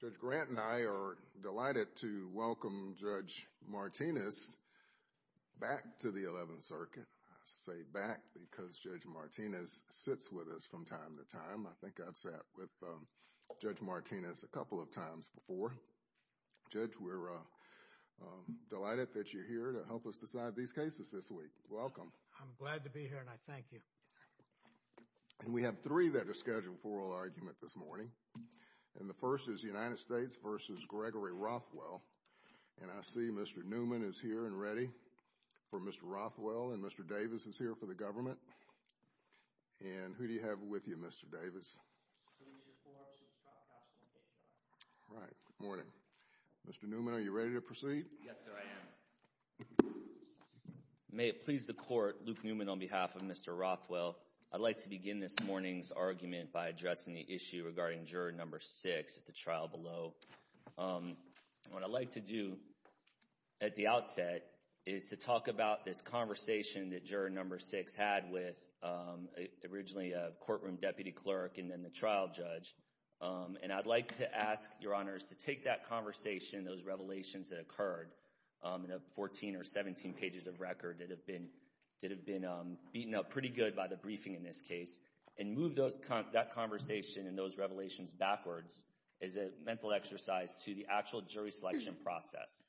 Judge Grant and I are delighted to welcome Judge Martinez back to the Eleventh Circuit. I say back because Judge Martinez sits with us from time to time. I think I've sat with Judge Martinez a couple of times before. Judge, we're delighted that you're here to help us decide these cases this week. Welcome. I'm glad to be here and I thank you. And we have three that are scheduled for oral argument this morning, and the first is United States v. Gregory Rothwell, and I see Mr. Newman is here and ready for Mr. Rothwell and Mr. Davis is here for the government, and who do you have with you, Mr. Davis? Right, good morning. Mr. Newman, are you ready to proceed? Yes, sir, I am. May it please the Court, Luke Newman on behalf of Mr. Rothwell. I'd like to begin this morning's argument by addressing the issue regarding juror number six at the trial below. What I'd like to do at the outset is to talk about this conversation that juror number six had with originally a courtroom deputy clerk and then the trial judge, and I'd like to ask, Your Honors, to take that conversation, those revelations that occurred in the 14 or 17 pages of record that have been beaten up pretty good by the briefing in this case, and move that conversation and those revelations backwards as a mental exercise to the actual jury selection process.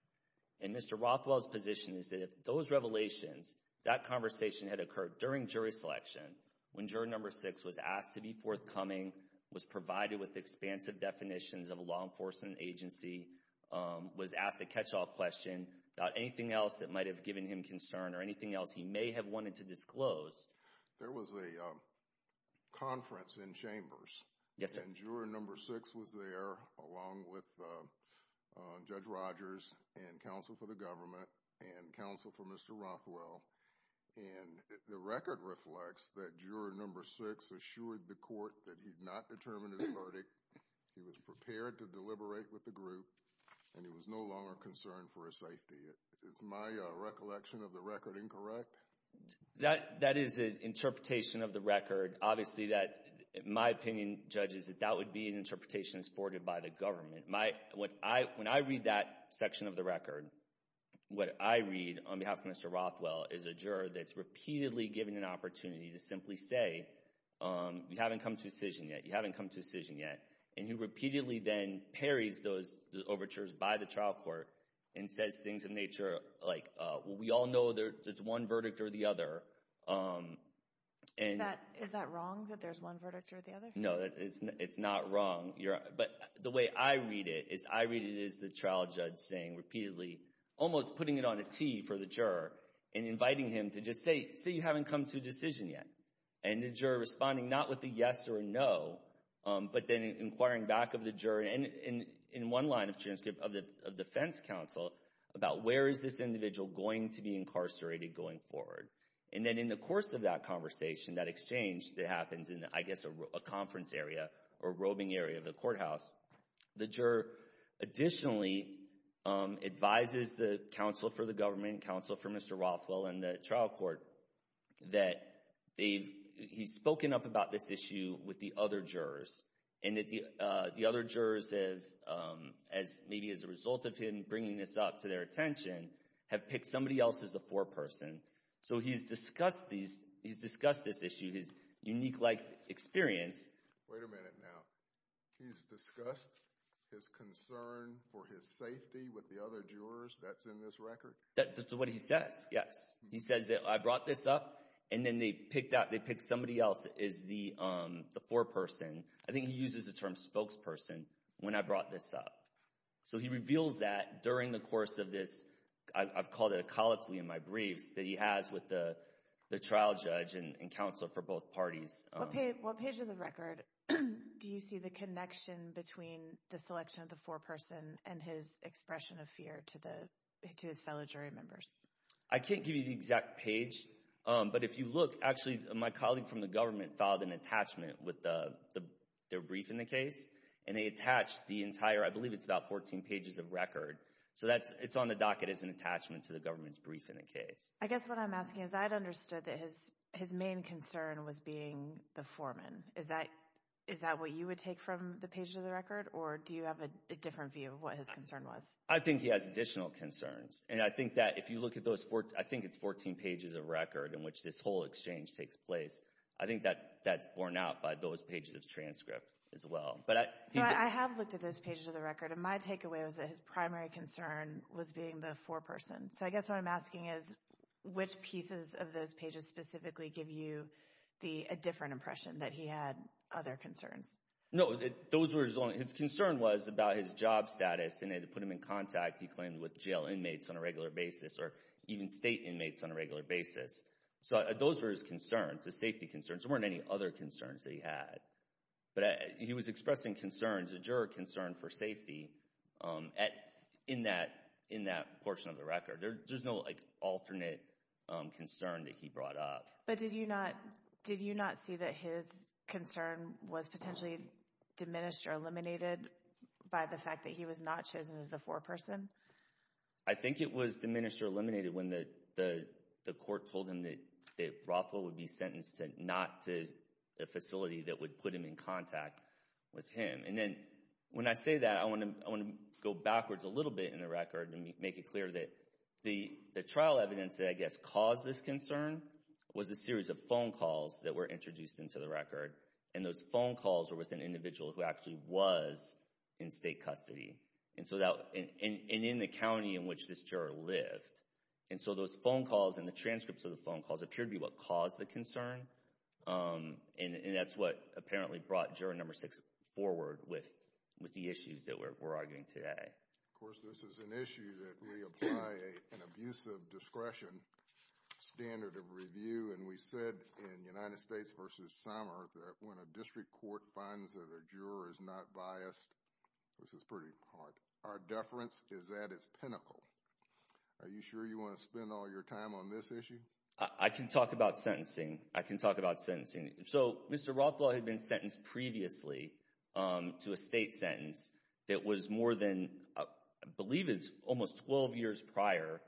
And Mr. Rothwell's position is that if those revelations, that conversation had occurred during jury selection, when juror number six was asked to be forthcoming, was provided with expansive definitions of a law enforcement agency, was asked a catch-all question about anything else that might have given him concern or anything else he may have wanted to disclose. There was a conference in Chambers. Yes, sir. And juror number six was there along with Judge Rogers and counsel for the government and counsel for Mr. Rothwell, and the record reflects that juror number six assured the verdict, he was prepared to deliberate with the group, and he was no longer concerned for his safety. Is my recollection of the record incorrect? That is an interpretation of the record. Obviously, my opinion, Judge, is that that would be an interpretation that's forwarded by the government. When I read that section of the record, what I read on behalf of Mr. Rothwell is a juror that's repeatedly given an opportunity to simply say, you haven't come to a decision yet, and he repeatedly then parries those overtures by the trial court and says things of nature like, we all know there's one verdict or the other. Is that wrong, that there's one verdict or the other? No, it's not wrong. But the way I read it is I read it as the trial judge saying repeatedly, almost putting it on a T for the juror, and inviting him to just say, say you haven't come to a decision yet. And the juror responding not with a yes or a no, but then inquiring back of the juror and in one line of transcript of the defense counsel about where is this individual going to be incarcerated going forward. And then in the course of that conversation, that exchange that happens in, I guess, a conference area or robing area of the courthouse, the juror additionally advises the counsel for the government, counsel for Mr. Rothwell and the trial court that he's spoken up about this issue with the other jurors. And that the other jurors have, maybe as a result of him bringing this up to their attention, have picked somebody else as a foreperson. So he's discussed this issue, his unique life experience. Wait a minute now. He's discussed his concern for his safety with the other jurors? That's in this record? That's what he says, yes. He says that I brought this up, and then they picked somebody else as the foreperson. I think he uses the term spokesperson when I brought this up. So he reveals that during the course of this, I've called it a colloquy in my briefs, that he has with the trial judge and counsel for both parties. What page of the record do you see the connection between the selection of the foreperson and his expression of fear to his fellow jury members? I can't give you the exact page, but if you look, actually my colleague from the government filed an attachment with their brief in the case, and they attached the entire, I believe it's about 14 pages of record. So it's on the docket as an attachment to the government's brief in the case. I guess what I'm asking is, I had understood that his main concern was being the foreman. Is that what you would take from the pages of the record, or do you have a different view of what his concern was? I think he has additional concerns, and I think that if you look at those, I think it's 14 pages of record in which this whole exchange takes place. I think that's borne out by those pages of transcript as well. So I have looked at those pages of the record, and my takeaway was that his primary concern was being the foreperson. So I guess what I'm asking is, which pieces of those pages specifically give you a different impression, that he had other concerns? No, those were his only, his concern was about his job status, and they put him in contact, he claimed, with jail inmates on a regular basis, or even state inmates on a regular basis. So those were his concerns, his safety concerns. There weren't any other concerns that he had. But he was expressing concerns, a juror concern for safety, in that portion of the record. There's no alternate concern that he brought up. But did you not see that his concern was potentially diminished or eliminated by the fact that he was not chosen as the foreperson? I think it was diminished or eliminated when the court told him that Rothwell would be put him in contact with him. And then, when I say that, I want to go backwards a little bit in the record and make it clear that the trial evidence that I guess caused this concern was a series of phone calls that were introduced into the record, and those phone calls were with an individual who actually was in state custody, and in the county in which this juror lived. And so those phone calls and the transcripts of the phone calls appeared to be what caused the concern, and that's what apparently brought Juror No. 6 forward with the issues that we're arguing today. Of course, this is an issue that we apply an abusive discretion standard of review, and we said in United States v. Sommer that when a district court finds that a juror is not biased, this is pretty hard. Our deference is that it's pinnacle. Are you sure you want to spend all your time on this issue? I can talk about sentencing. I can talk about sentencing. So, Mr. Rothwell had been sentenced previously to a state sentence that was more than, I believe it's almost 12 years prior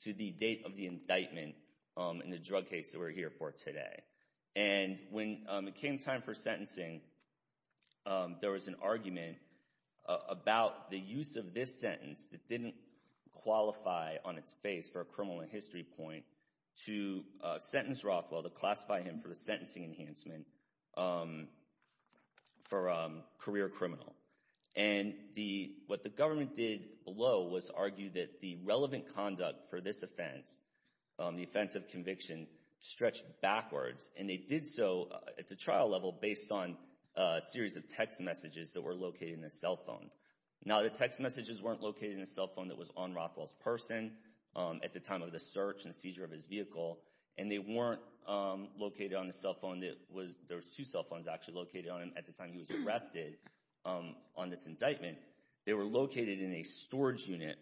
to the date of the indictment in the drug case that we're here for today. And when it came time for sentencing, there was an argument about the use of this sentence that didn't qualify on its face for a criminal history point to sentence Rothwell, to classify him for the sentencing enhancement for a career criminal. And what the government did below was argue that the relevant conduct for this offense, the offense of conviction, stretched backwards, and they did so at the trial level based on a series of text messages that were located in his cell phone. Now, the text messages weren't located in the cell phone that was on Rothwell's person at the time of the search and seizure of his vehicle, and they weren't located on the cell phone that was, there was two cell phones actually located on him at the time he was arrested on this indictment. They were located in a storage unit,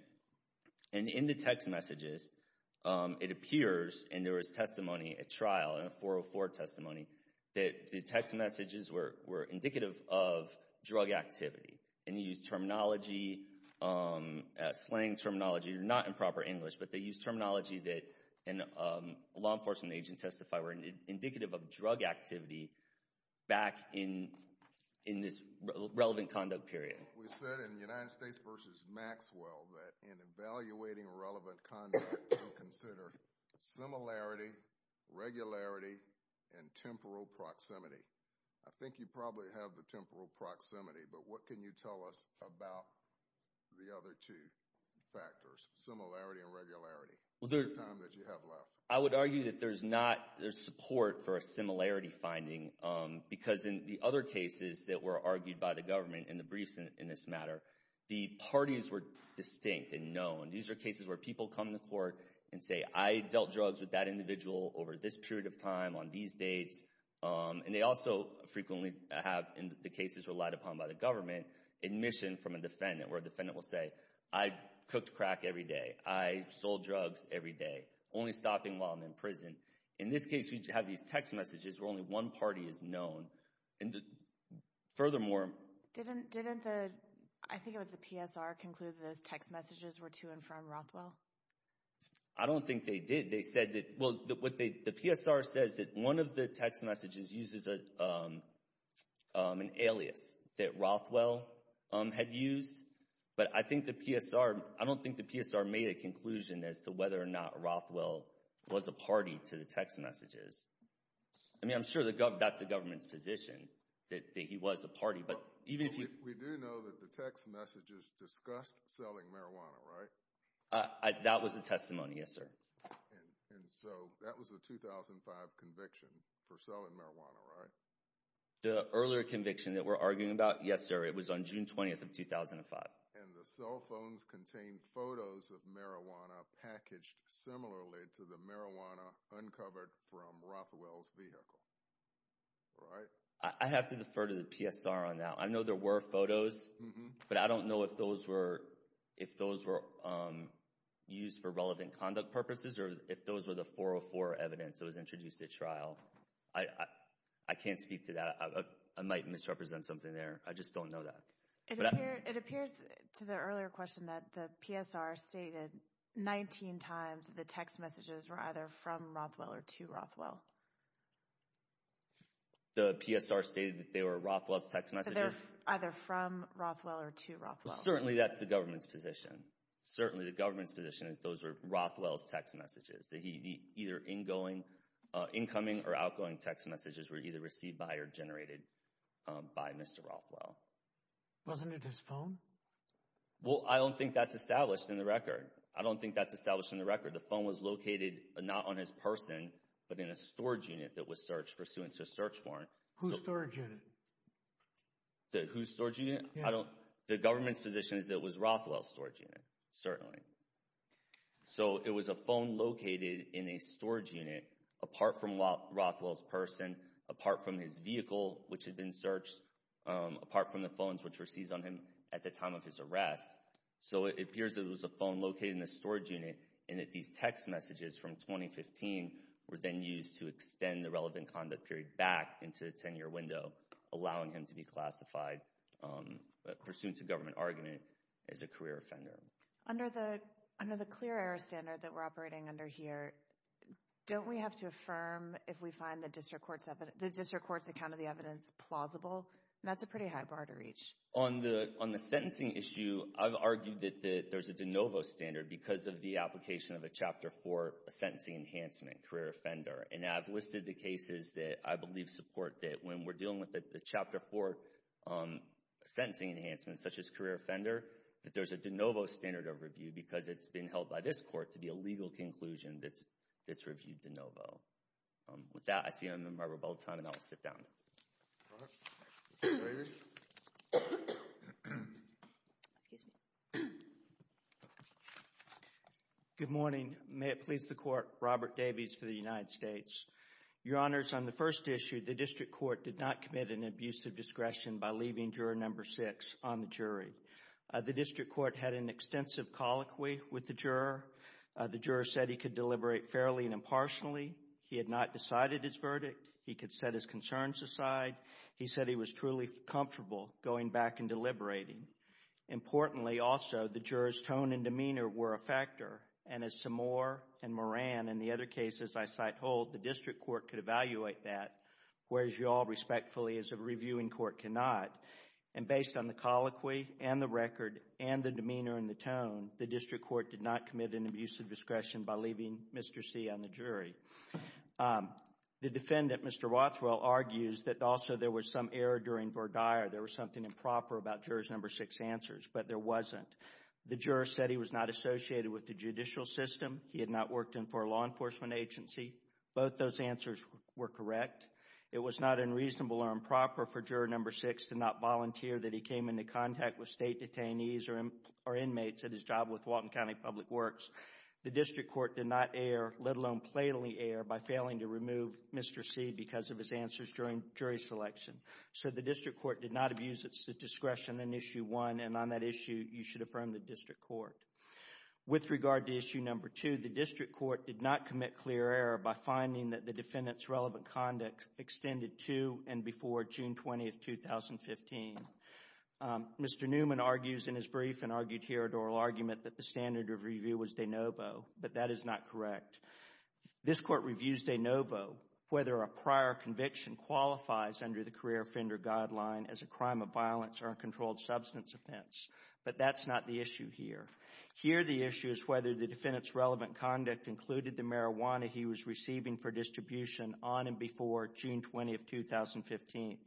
and in the text messages, it appears, and there was testimony at trial, a 404 testimony, that the text messages were indicative of drug activity, and you use terminology, slang terminology, not in proper English, but they use terminology that a law enforcement agent testified were indicative of drug activity back in this relevant conduct period. We said in United States v. Maxwell that in evaluating relevant conduct, you consider similarity, regularity, and temporal proximity. I think you probably have the temporal proximity, but what can you tell us about the other two factors, similarity and regularity, in the time that you have left? I would argue that there's not, there's support for a similarity finding, because in the other cases that were argued by the government in the briefs in this matter, the parties were distinct and known. These are cases where people come to court and say, I dealt drugs with that individual over this period of time, on these dates, and they also frequently have, in the cases relied upon by the government, admission from a defendant, where a defendant will say, I cooked crack every day. I sold drugs every day, only stopping while I'm in prison. In this case, we have these text messages where only one party is known, and furthermore Didn't the, I think it was the PSR, conclude that those text messages were to and from Rothwell? I don't think they did. They said that, well, the PSR says that one of the text messages uses an alias that Rothwell had used, but I think the PSR, I don't think the PSR made a conclusion as to whether or not Rothwell was a party to the text messages. I mean, I'm sure that's the government's position, that he was a party, but even if he We do know that the text messages discussed selling marijuana, right? That was the testimony, yes sir. And so, that was the 2005 conviction for selling marijuana, right? The earlier conviction that we're arguing about, yes sir, it was on June 20th of 2005. And the cell phones contained photos of marijuana packaged similarly to the marijuana uncovered from Rothwell's vehicle, right? I have to defer to the PSR on that. I know there were photos, but I don't know if those were used for relevant conduct purposes or if those were the 404 evidence that was introduced at trial. I can't speak to that. I might misrepresent something there. I just don't know that. It appears to the earlier question that the PSR stated 19 times that the text messages were either from Rothwell or to Rothwell. The PSR stated that they were Rothwell's text messages? That they were either from Rothwell or to Rothwell. Certainly, that's the government's position. Certainly, the government's position is those were Rothwell's text messages. That either incoming or outgoing text messages were either received by or generated by Mr. Rothwell. Wasn't it his phone? Well, I don't think that's established in the record. I don't think that's established in the record. The phone was located not on his person, but in a storage unit that was searched pursuant to a search warrant. Whose storage unit? Whose storage unit? The government's position is that it was Rothwell's storage unit. Certainly. So, it was a phone located in a storage unit apart from Rothwell's person, apart from his vehicle, which had been searched, apart from the phones which were seized on him at the time of his arrest. So, it appears that it was a phone located in the storage unit, and that these text messages from 2015 were then used to extend the relevant conduct period back into the 10-year window, allowing him to be classified pursuant to government argument as a career offender. Under the clear error standard that we're operating under here, don't we have to affirm if we find the district court's account of the evidence plausible? That's a pretty high bar to reach. On the sentencing issue, I've argued that there's a de novo standard because of the application of a Chapter 4 sentencing enhancement, career offender. And I've listed the cases that I believe support that when we're dealing with a Chapter 4 sentencing enhancement, such as career offender, that there's a de novo standard of review because it's been held by this court to be a legal conclusion that's reviewed de novo. With that, I see I'm in my rebuttal time, and I will sit down. Go ahead. Good morning. May it please the Court, Robert Davies for the United States. Your Honors, on the first issue, the district court did not commit an abuse of discretion by leaving juror No. 6 on the jury. The district court had an extensive colloquy with the juror. The juror said he could deliberate fairly and impartially. He had not decided his verdict. He could set his concerns aside. He said he was truly comfortable going back and deliberating. Importantly, also, the juror's tone and demeanor were a factor. And as Samore and Moran and the other cases I site hold, the district court could evaluate that, whereas you all respectfully, as a reviewing court, cannot. And based on the colloquy and the record and the demeanor and the tone, the district court did not commit an abuse of discretion by leaving Mr. C on the jury. The defendant, Mr. Rothwell, argues that also there was some error during Verdier. There was something improper about juror No. 6's answers, but there wasn't. The juror said he was not associated with the judicial system. He had not worked for a law enforcement agency. Both those answers were correct. It was not unreasonable or improper for juror No. 6 to not volunteer that he came into contact with state detainees or inmates at his job with Whatcom County Public Works. The district court did not err, let alone plainly err, by failing to remove Mr. C because of his answers during jury selection. So the district court did not abuse its discretion in Issue 1, and on that issue you should affirm the district court. With regard to Issue No. 2, the district court did not commit clear error by finding that the defendant's relevant conduct extended to and before June 20, 2015. Mr. Newman argues in his brief, and argued here at oral argument, that the standard of review was de novo, but that is not correct. This court reviews de novo whether a prior conviction qualifies under the career offender guideline as a crime of violence or a controlled substance offense, but that's not the issue here. Here the issue is whether the defendant's relevant conduct included the marijuana he was receiving for distribution on and before June 20, 2015,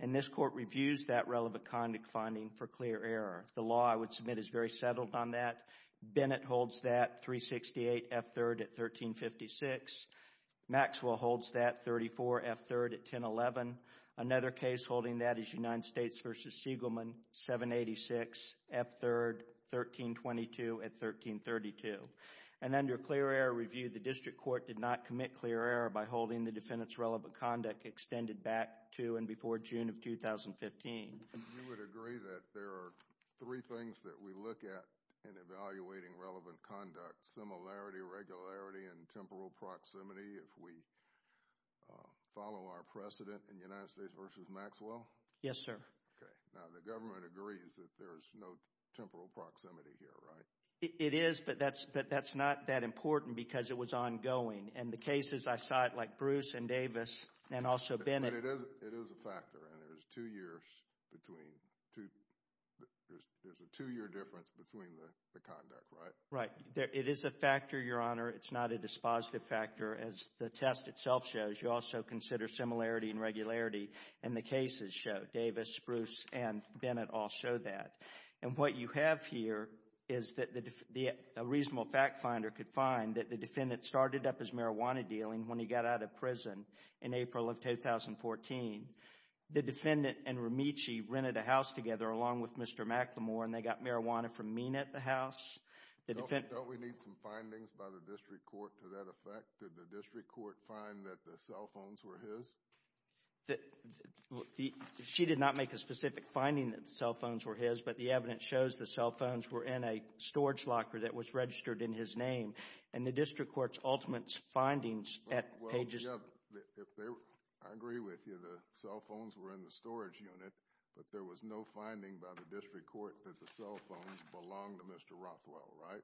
and this court reviews that relevant conduct finding for clear error. The law, I would submit, is very settled on that. Bennett holds that 368 F-3rd at 1356. Maxwell holds that 34 F-3rd at 1011. Another case holding that is United States v. Siegelman, 786 F-3rd, 1322 at 1332. And under clear error review, the district court did not commit clear error by holding the defendant's relevant conduct extended back to and before June of 2015. You would agree that there are three things that we look at in evaluating relevant conduct, similarity, regularity, and temporal proximity if we follow our precedent in United States v. Maxwell? Yes, sir. Okay. Now, the government agrees that there is no temporal proximity here, right? It is, but that's not that important because it was ongoing, and the cases I cite like Bruce and Davis and also Bennett. But it is a factor, and there's a two-year difference between the conduct, right? Right. It is a factor, Your Honor. It's not a dispositive factor, as the test itself shows. You also consider similarity and regularity, and the cases show. Davis, Bruce, and Bennett all show that. And what you have here is that a reasonable fact finder could find that the defendant started up his marijuana dealing when he got out of prison in April of 2014. The defendant and Remicci rented a house together along with Mr. McLemore, and they got marijuana from Mina at the house. Don't we need some findings by the district court to that effect? Did the district court find that the cell phones were his? She did not make a specific finding that the cell phones were his, but the evidence shows the cell phones were in a storage locker that was registered in his name. And the district court's ultimate findings at pages— I agree with you. The cell phones were in the storage unit, but there was no finding by the district court that the cell phones belonged to Mr. Rothwell, right?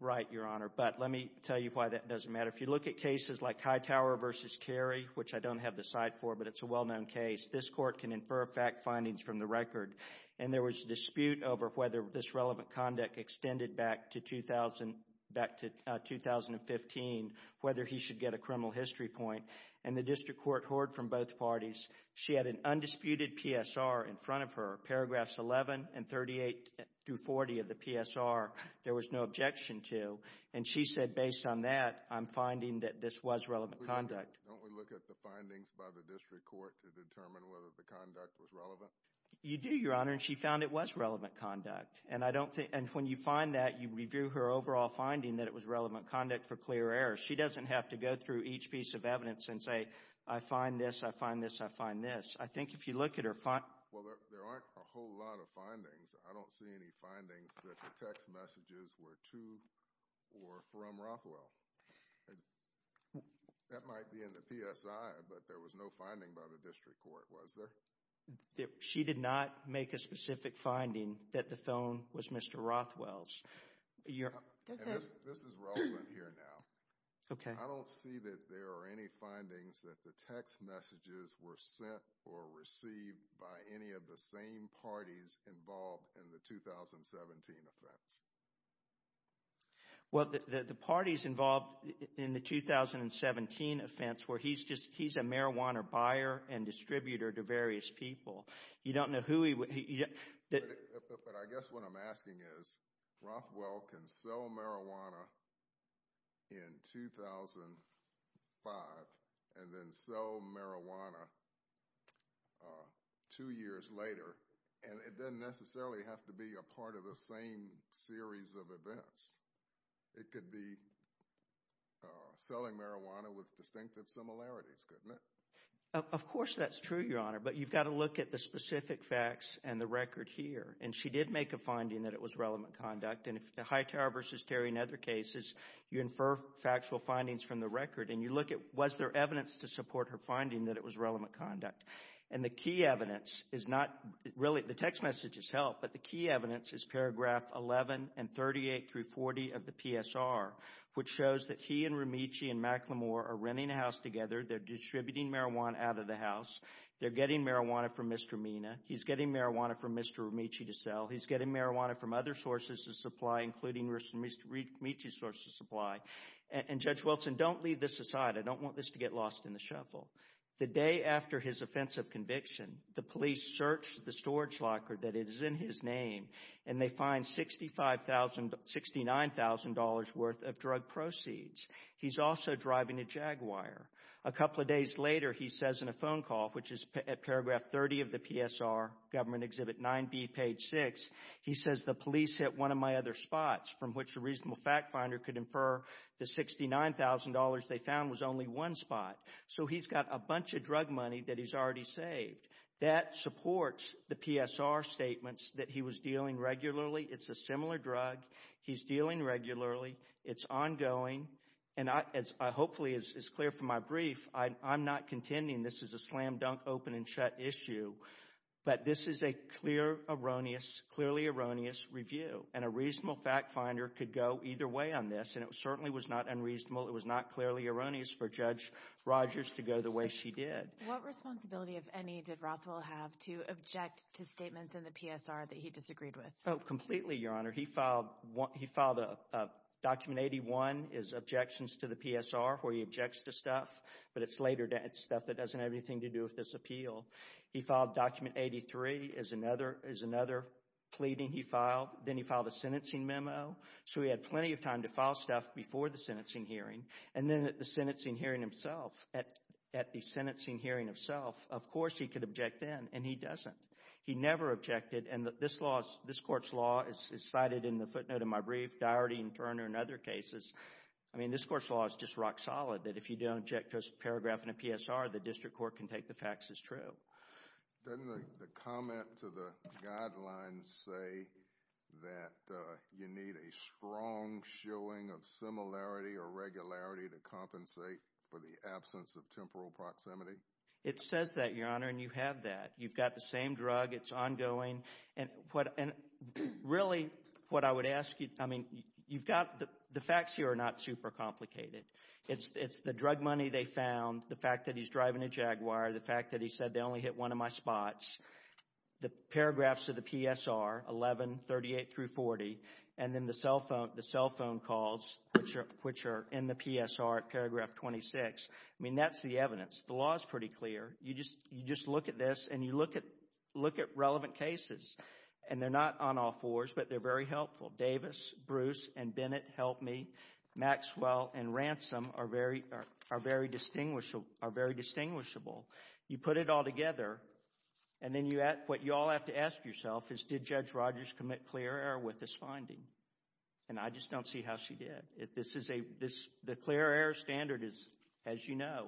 Right, Your Honor, but let me tell you why that doesn't matter. If you look at cases like Hightower v. Terry, which I don't have the side for, but it's a well-known case, this court can infer fact findings from the record. And there was a dispute over whether this relevant conduct extended back to 2015, whether he should get a criminal history point. And the district court heard from both parties. She had an undisputed PSR in front of her, paragraphs 11 and 38 through 40 of the PSR. There was no objection to. And she said, based on that, I'm finding that this was relevant conduct. Don't we look at the findings by the district court to determine whether the conduct was relevant? You do, Your Honor, and she found it was relevant conduct. And when you find that, you review her overall finding that it was relevant conduct for clear error. She doesn't have to go through each piece of evidence and say, I find this, I find this, I find this. I think if you look at her— Well, there aren't a whole lot of findings. I don't see any findings that the text messages were to or from Rothwell. That might be in the PSI, but there was no finding by the district court, was there? She did not make a specific finding that the phone was Mr. Rothwell's. This is relevant here now. I don't see that there are any findings that the text messages were sent or received by any of the same parties involved in the 2017 offense. Well, the parties involved in the 2017 offense were he's a marijuana buyer and distributor to various people. You don't know who he— But I guess what I'm asking is, Rothwell can sell marijuana in 2005 and then sell marijuana two years later, and it doesn't necessarily have to be a part of the same series of events. It could be selling marijuana with distinctive similarities, couldn't it? Of course that's true, Your Honor, but you've got to look at the specific facts and the record here. And she did make a finding that it was relevant conduct. And if the Hightower v. Terry and other cases, you infer factual findings from the record, and you look at was there evidence to support her finding that it was relevant conduct. And the key evidence is not really—the text messages help, but the key evidence is paragraph 11 and 38 through 40 of the PSR, which shows that he and Remicci and McLemore are renting a house together. They're distributing marijuana out of the house. They're getting marijuana from Mr. Mina. He's getting marijuana from Mr. Remicci to sell. He's getting marijuana from other sources of supply, including Mr. Remicci's source of supply. And, Judge Wilson, don't leave this aside. I don't want this to get lost in the shuffle. The day after his offensive conviction, the police searched the storage locker that is in his name, and they find $69,000 worth of drug proceeds. He's also driving a Jaguar. A couple of days later, he says in a phone call, which is at paragraph 30 of the PSR, Government Exhibit 9B, page 6, he says, the police hit one of my other spots from which a reasonable fact finder could infer the $69,000 they found was only one spot. So he's got a bunch of drug money that he's already saved. That supports the PSR statements that he was dealing regularly. It's a similar drug. He's dealing regularly. It's ongoing. And hopefully, as is clear from my brief, I'm not contending this is a slam-dunk, open-and-shut issue, but this is a clear, erroneous, clearly erroneous review. And a reasonable fact finder could go either way on this, and it certainly was not unreasonable. It was not clearly erroneous for Judge Rogers to go the way she did. What responsibility, if any, did Rothwell have to object to statements in the PSR that he disagreed with? Oh, completely, Your Honor. He filed document 81 as objections to the PSR where he objects to stuff, but it's later stuff that doesn't have anything to do with this appeal. He filed document 83 as another pleading he filed. Then he filed a sentencing memo. So he had plenty of time to file stuff before the sentencing hearing, and then at the sentencing hearing himself, at the sentencing hearing itself, of course he could object then, and he doesn't. He never objected. And this law, this court's law, is cited in the footnote in my brief, Diarty and Turner and other cases. I mean this court's law is just rock solid that if you don't object to a paragraph in a PSR, the district court can take the facts as true. Doesn't the comment to the guidelines say that you need a strong showing of similarity or regularity to compensate for the absence of temporal proximity? It says that, Your Honor, and you have that. You've got the same drug. It's ongoing. And really what I would ask you, I mean you've got the facts here are not super complicated. It's the drug money they found, the fact that he's driving a Jaguar, the fact that he said they only hit one of my spots, the paragraphs of the PSR 1138 through 40, and then the cell phone calls which are in the PSR at paragraph 26. I mean that's the evidence. The law is pretty clear. You just look at this and you look at relevant cases, and they're not on all fours, but they're very helpful. Davis, Bruce, and Bennett helped me. Maxwell and Ransom are very distinguishable. You put it all together, and then what you all have to ask yourself is, did Judge Rogers commit clear error with this finding? And I just don't see how she did. The clear error standard is, as you know,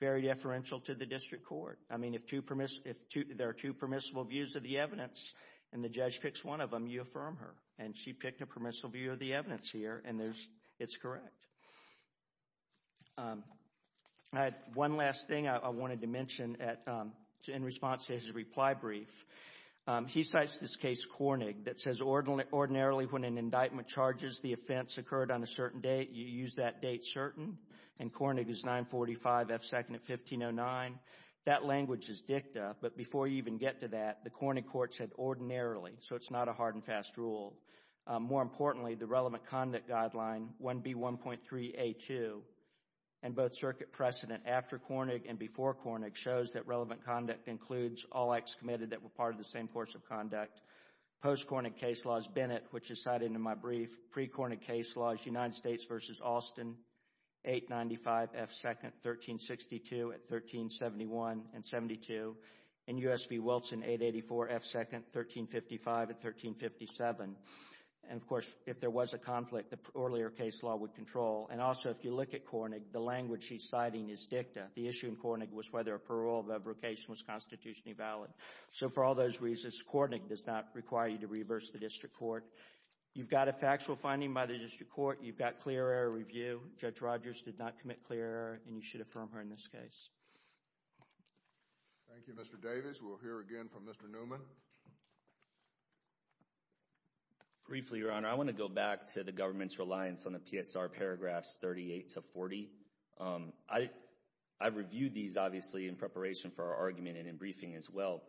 very deferential to the district court. I mean if there are two permissible views of the evidence, and the judge picks one of them, you affirm her. And she picked a permissible view of the evidence here, and it's correct. One last thing I wanted to mention in response to his reply brief, he cites this case, Kornig, that says, ordinarily when an indictment charges the offense occurred on a certain date, you use that date certain. And Kornig is 945 F. 2nd of 1509. That language is dicta, but before you even get to that, the Kornig court said ordinarily, so it's not a hard and fast rule. More importantly, the relevant conduct guideline, 1B1.3A2, and both circuit precedent after Kornig and before Kornig shows that relevant conduct includes all acts committed that were part of the same course of conduct. Post-Kornig case law is Bennett, which is cited in my brief. Pre-Kornig case law is United States v. Austin, 895 F. 2nd, 1362 at 1371 and 72. And U.S. v. Wilson, 884 F. 2nd, 1355 at 1357. And, of course, if there was a conflict, the earlier case law would control. And also, if you look at Kornig, the language he's citing is dicta. The issue in Kornig was whether a parole of abrogation was constitutionally valid. So, for all those reasons, Kornig does not require you to reverse the district court. You've got a factual finding by the district court. You've got clear error review. Judge Rogers did not commit clear error, and you should affirm her in this case. Thank you, Mr. Davis. We'll hear again from Mr. Newman. Briefly, Your Honor, I want to go back to the government's reliance on the PSR paragraphs 38 to 40. I reviewed these, obviously, in preparation for our argument and in briefing as well.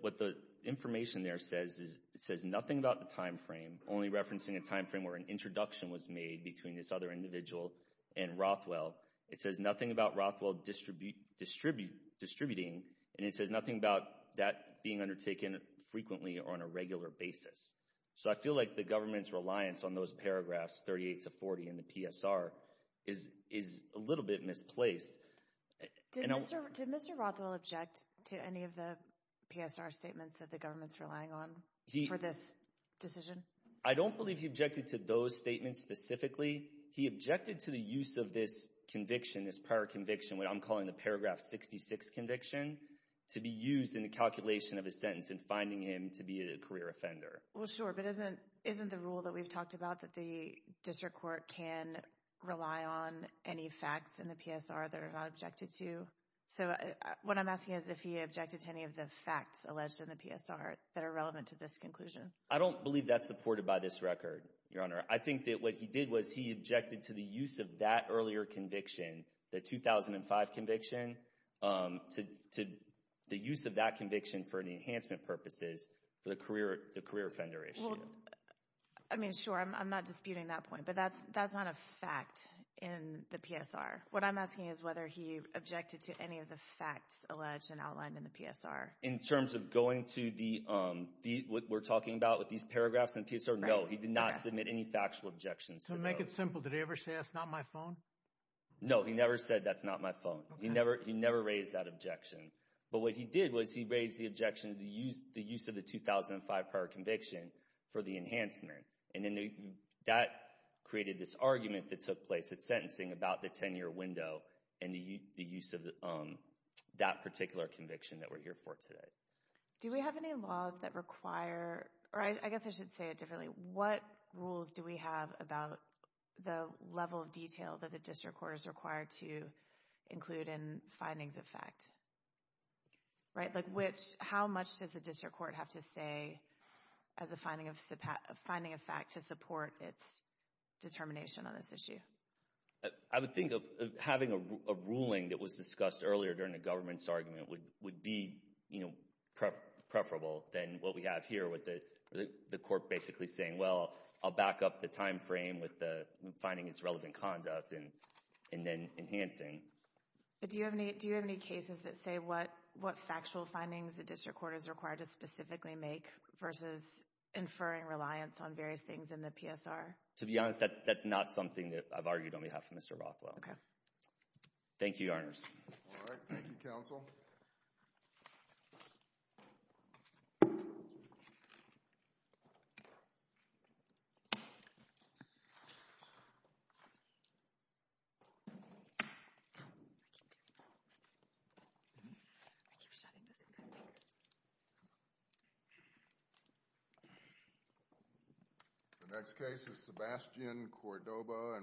What the information there says is it says nothing about the time frame, only referencing a time frame where an introduction was made between this other individual and Rothwell. It says nothing about Rothwell distributing, and it says nothing about that being undertaken frequently or on a regular basis. So, I feel like the government's reliance on those paragraphs 38 to 40 in the PSR is a little bit misplaced. Did Mr. Rothwell object to any of the PSR statements that the government's relying on for this decision? I don't believe he objected to those statements specifically. He objected to the use of this conviction, this prior conviction, what I'm calling the paragraph 66 conviction, to be used in the calculation of his sentence in finding him to be a career offender. Well, sure, but isn't the rule that we've talked about that the district court can rely on any facts in the PSR that are not objected to? So, what I'm asking is if he objected to any of the facts alleged in the PSR that are relevant to this conclusion. I don't believe that's supported by this record, Your Honor. I think that what he did was he objected to the use of that earlier conviction, the 2005 conviction, to the use of that conviction for enhancement purposes for the career offender issue. Well, I mean, sure, I'm not disputing that point, but that's not a fact in the PSR. What I'm asking is whether he objected to any of the facts alleged and outlined in the PSR. In terms of going to what we're talking about with these paragraphs in the PSR, no, he did not submit any factual objections to those. To make it simple, did he ever say that's not my phone? No, he never said that's not my phone. He never raised that objection. But what he did was he raised the objection to the use of the 2005 prior conviction for the enhancement, and then that created this argument that took place at sentencing about the 10-year window and the use of that particular conviction that we're here for today. Do we have any laws that require, or I guess I should say it differently, what rules do we have about the level of detail that the district court is required to include in findings of fact? How much does the district court have to say as a finding of fact to support its determination on this issue? I would think of having a ruling that was discussed earlier during the government's argument would be preferable than what we have here with the court basically saying, well, I'll back up the time frame with the finding its relevant conduct and then enhancing. But do you have any cases that say what factual findings the district court is required to specifically make versus inferring reliance on various things in the PSR? To be honest, that's not something that I've argued on behalf of Mr. Rothwell. Okay. Thank you, Your Honors. All right. Thank you, counsel. The next case is Sebastian Cordoba.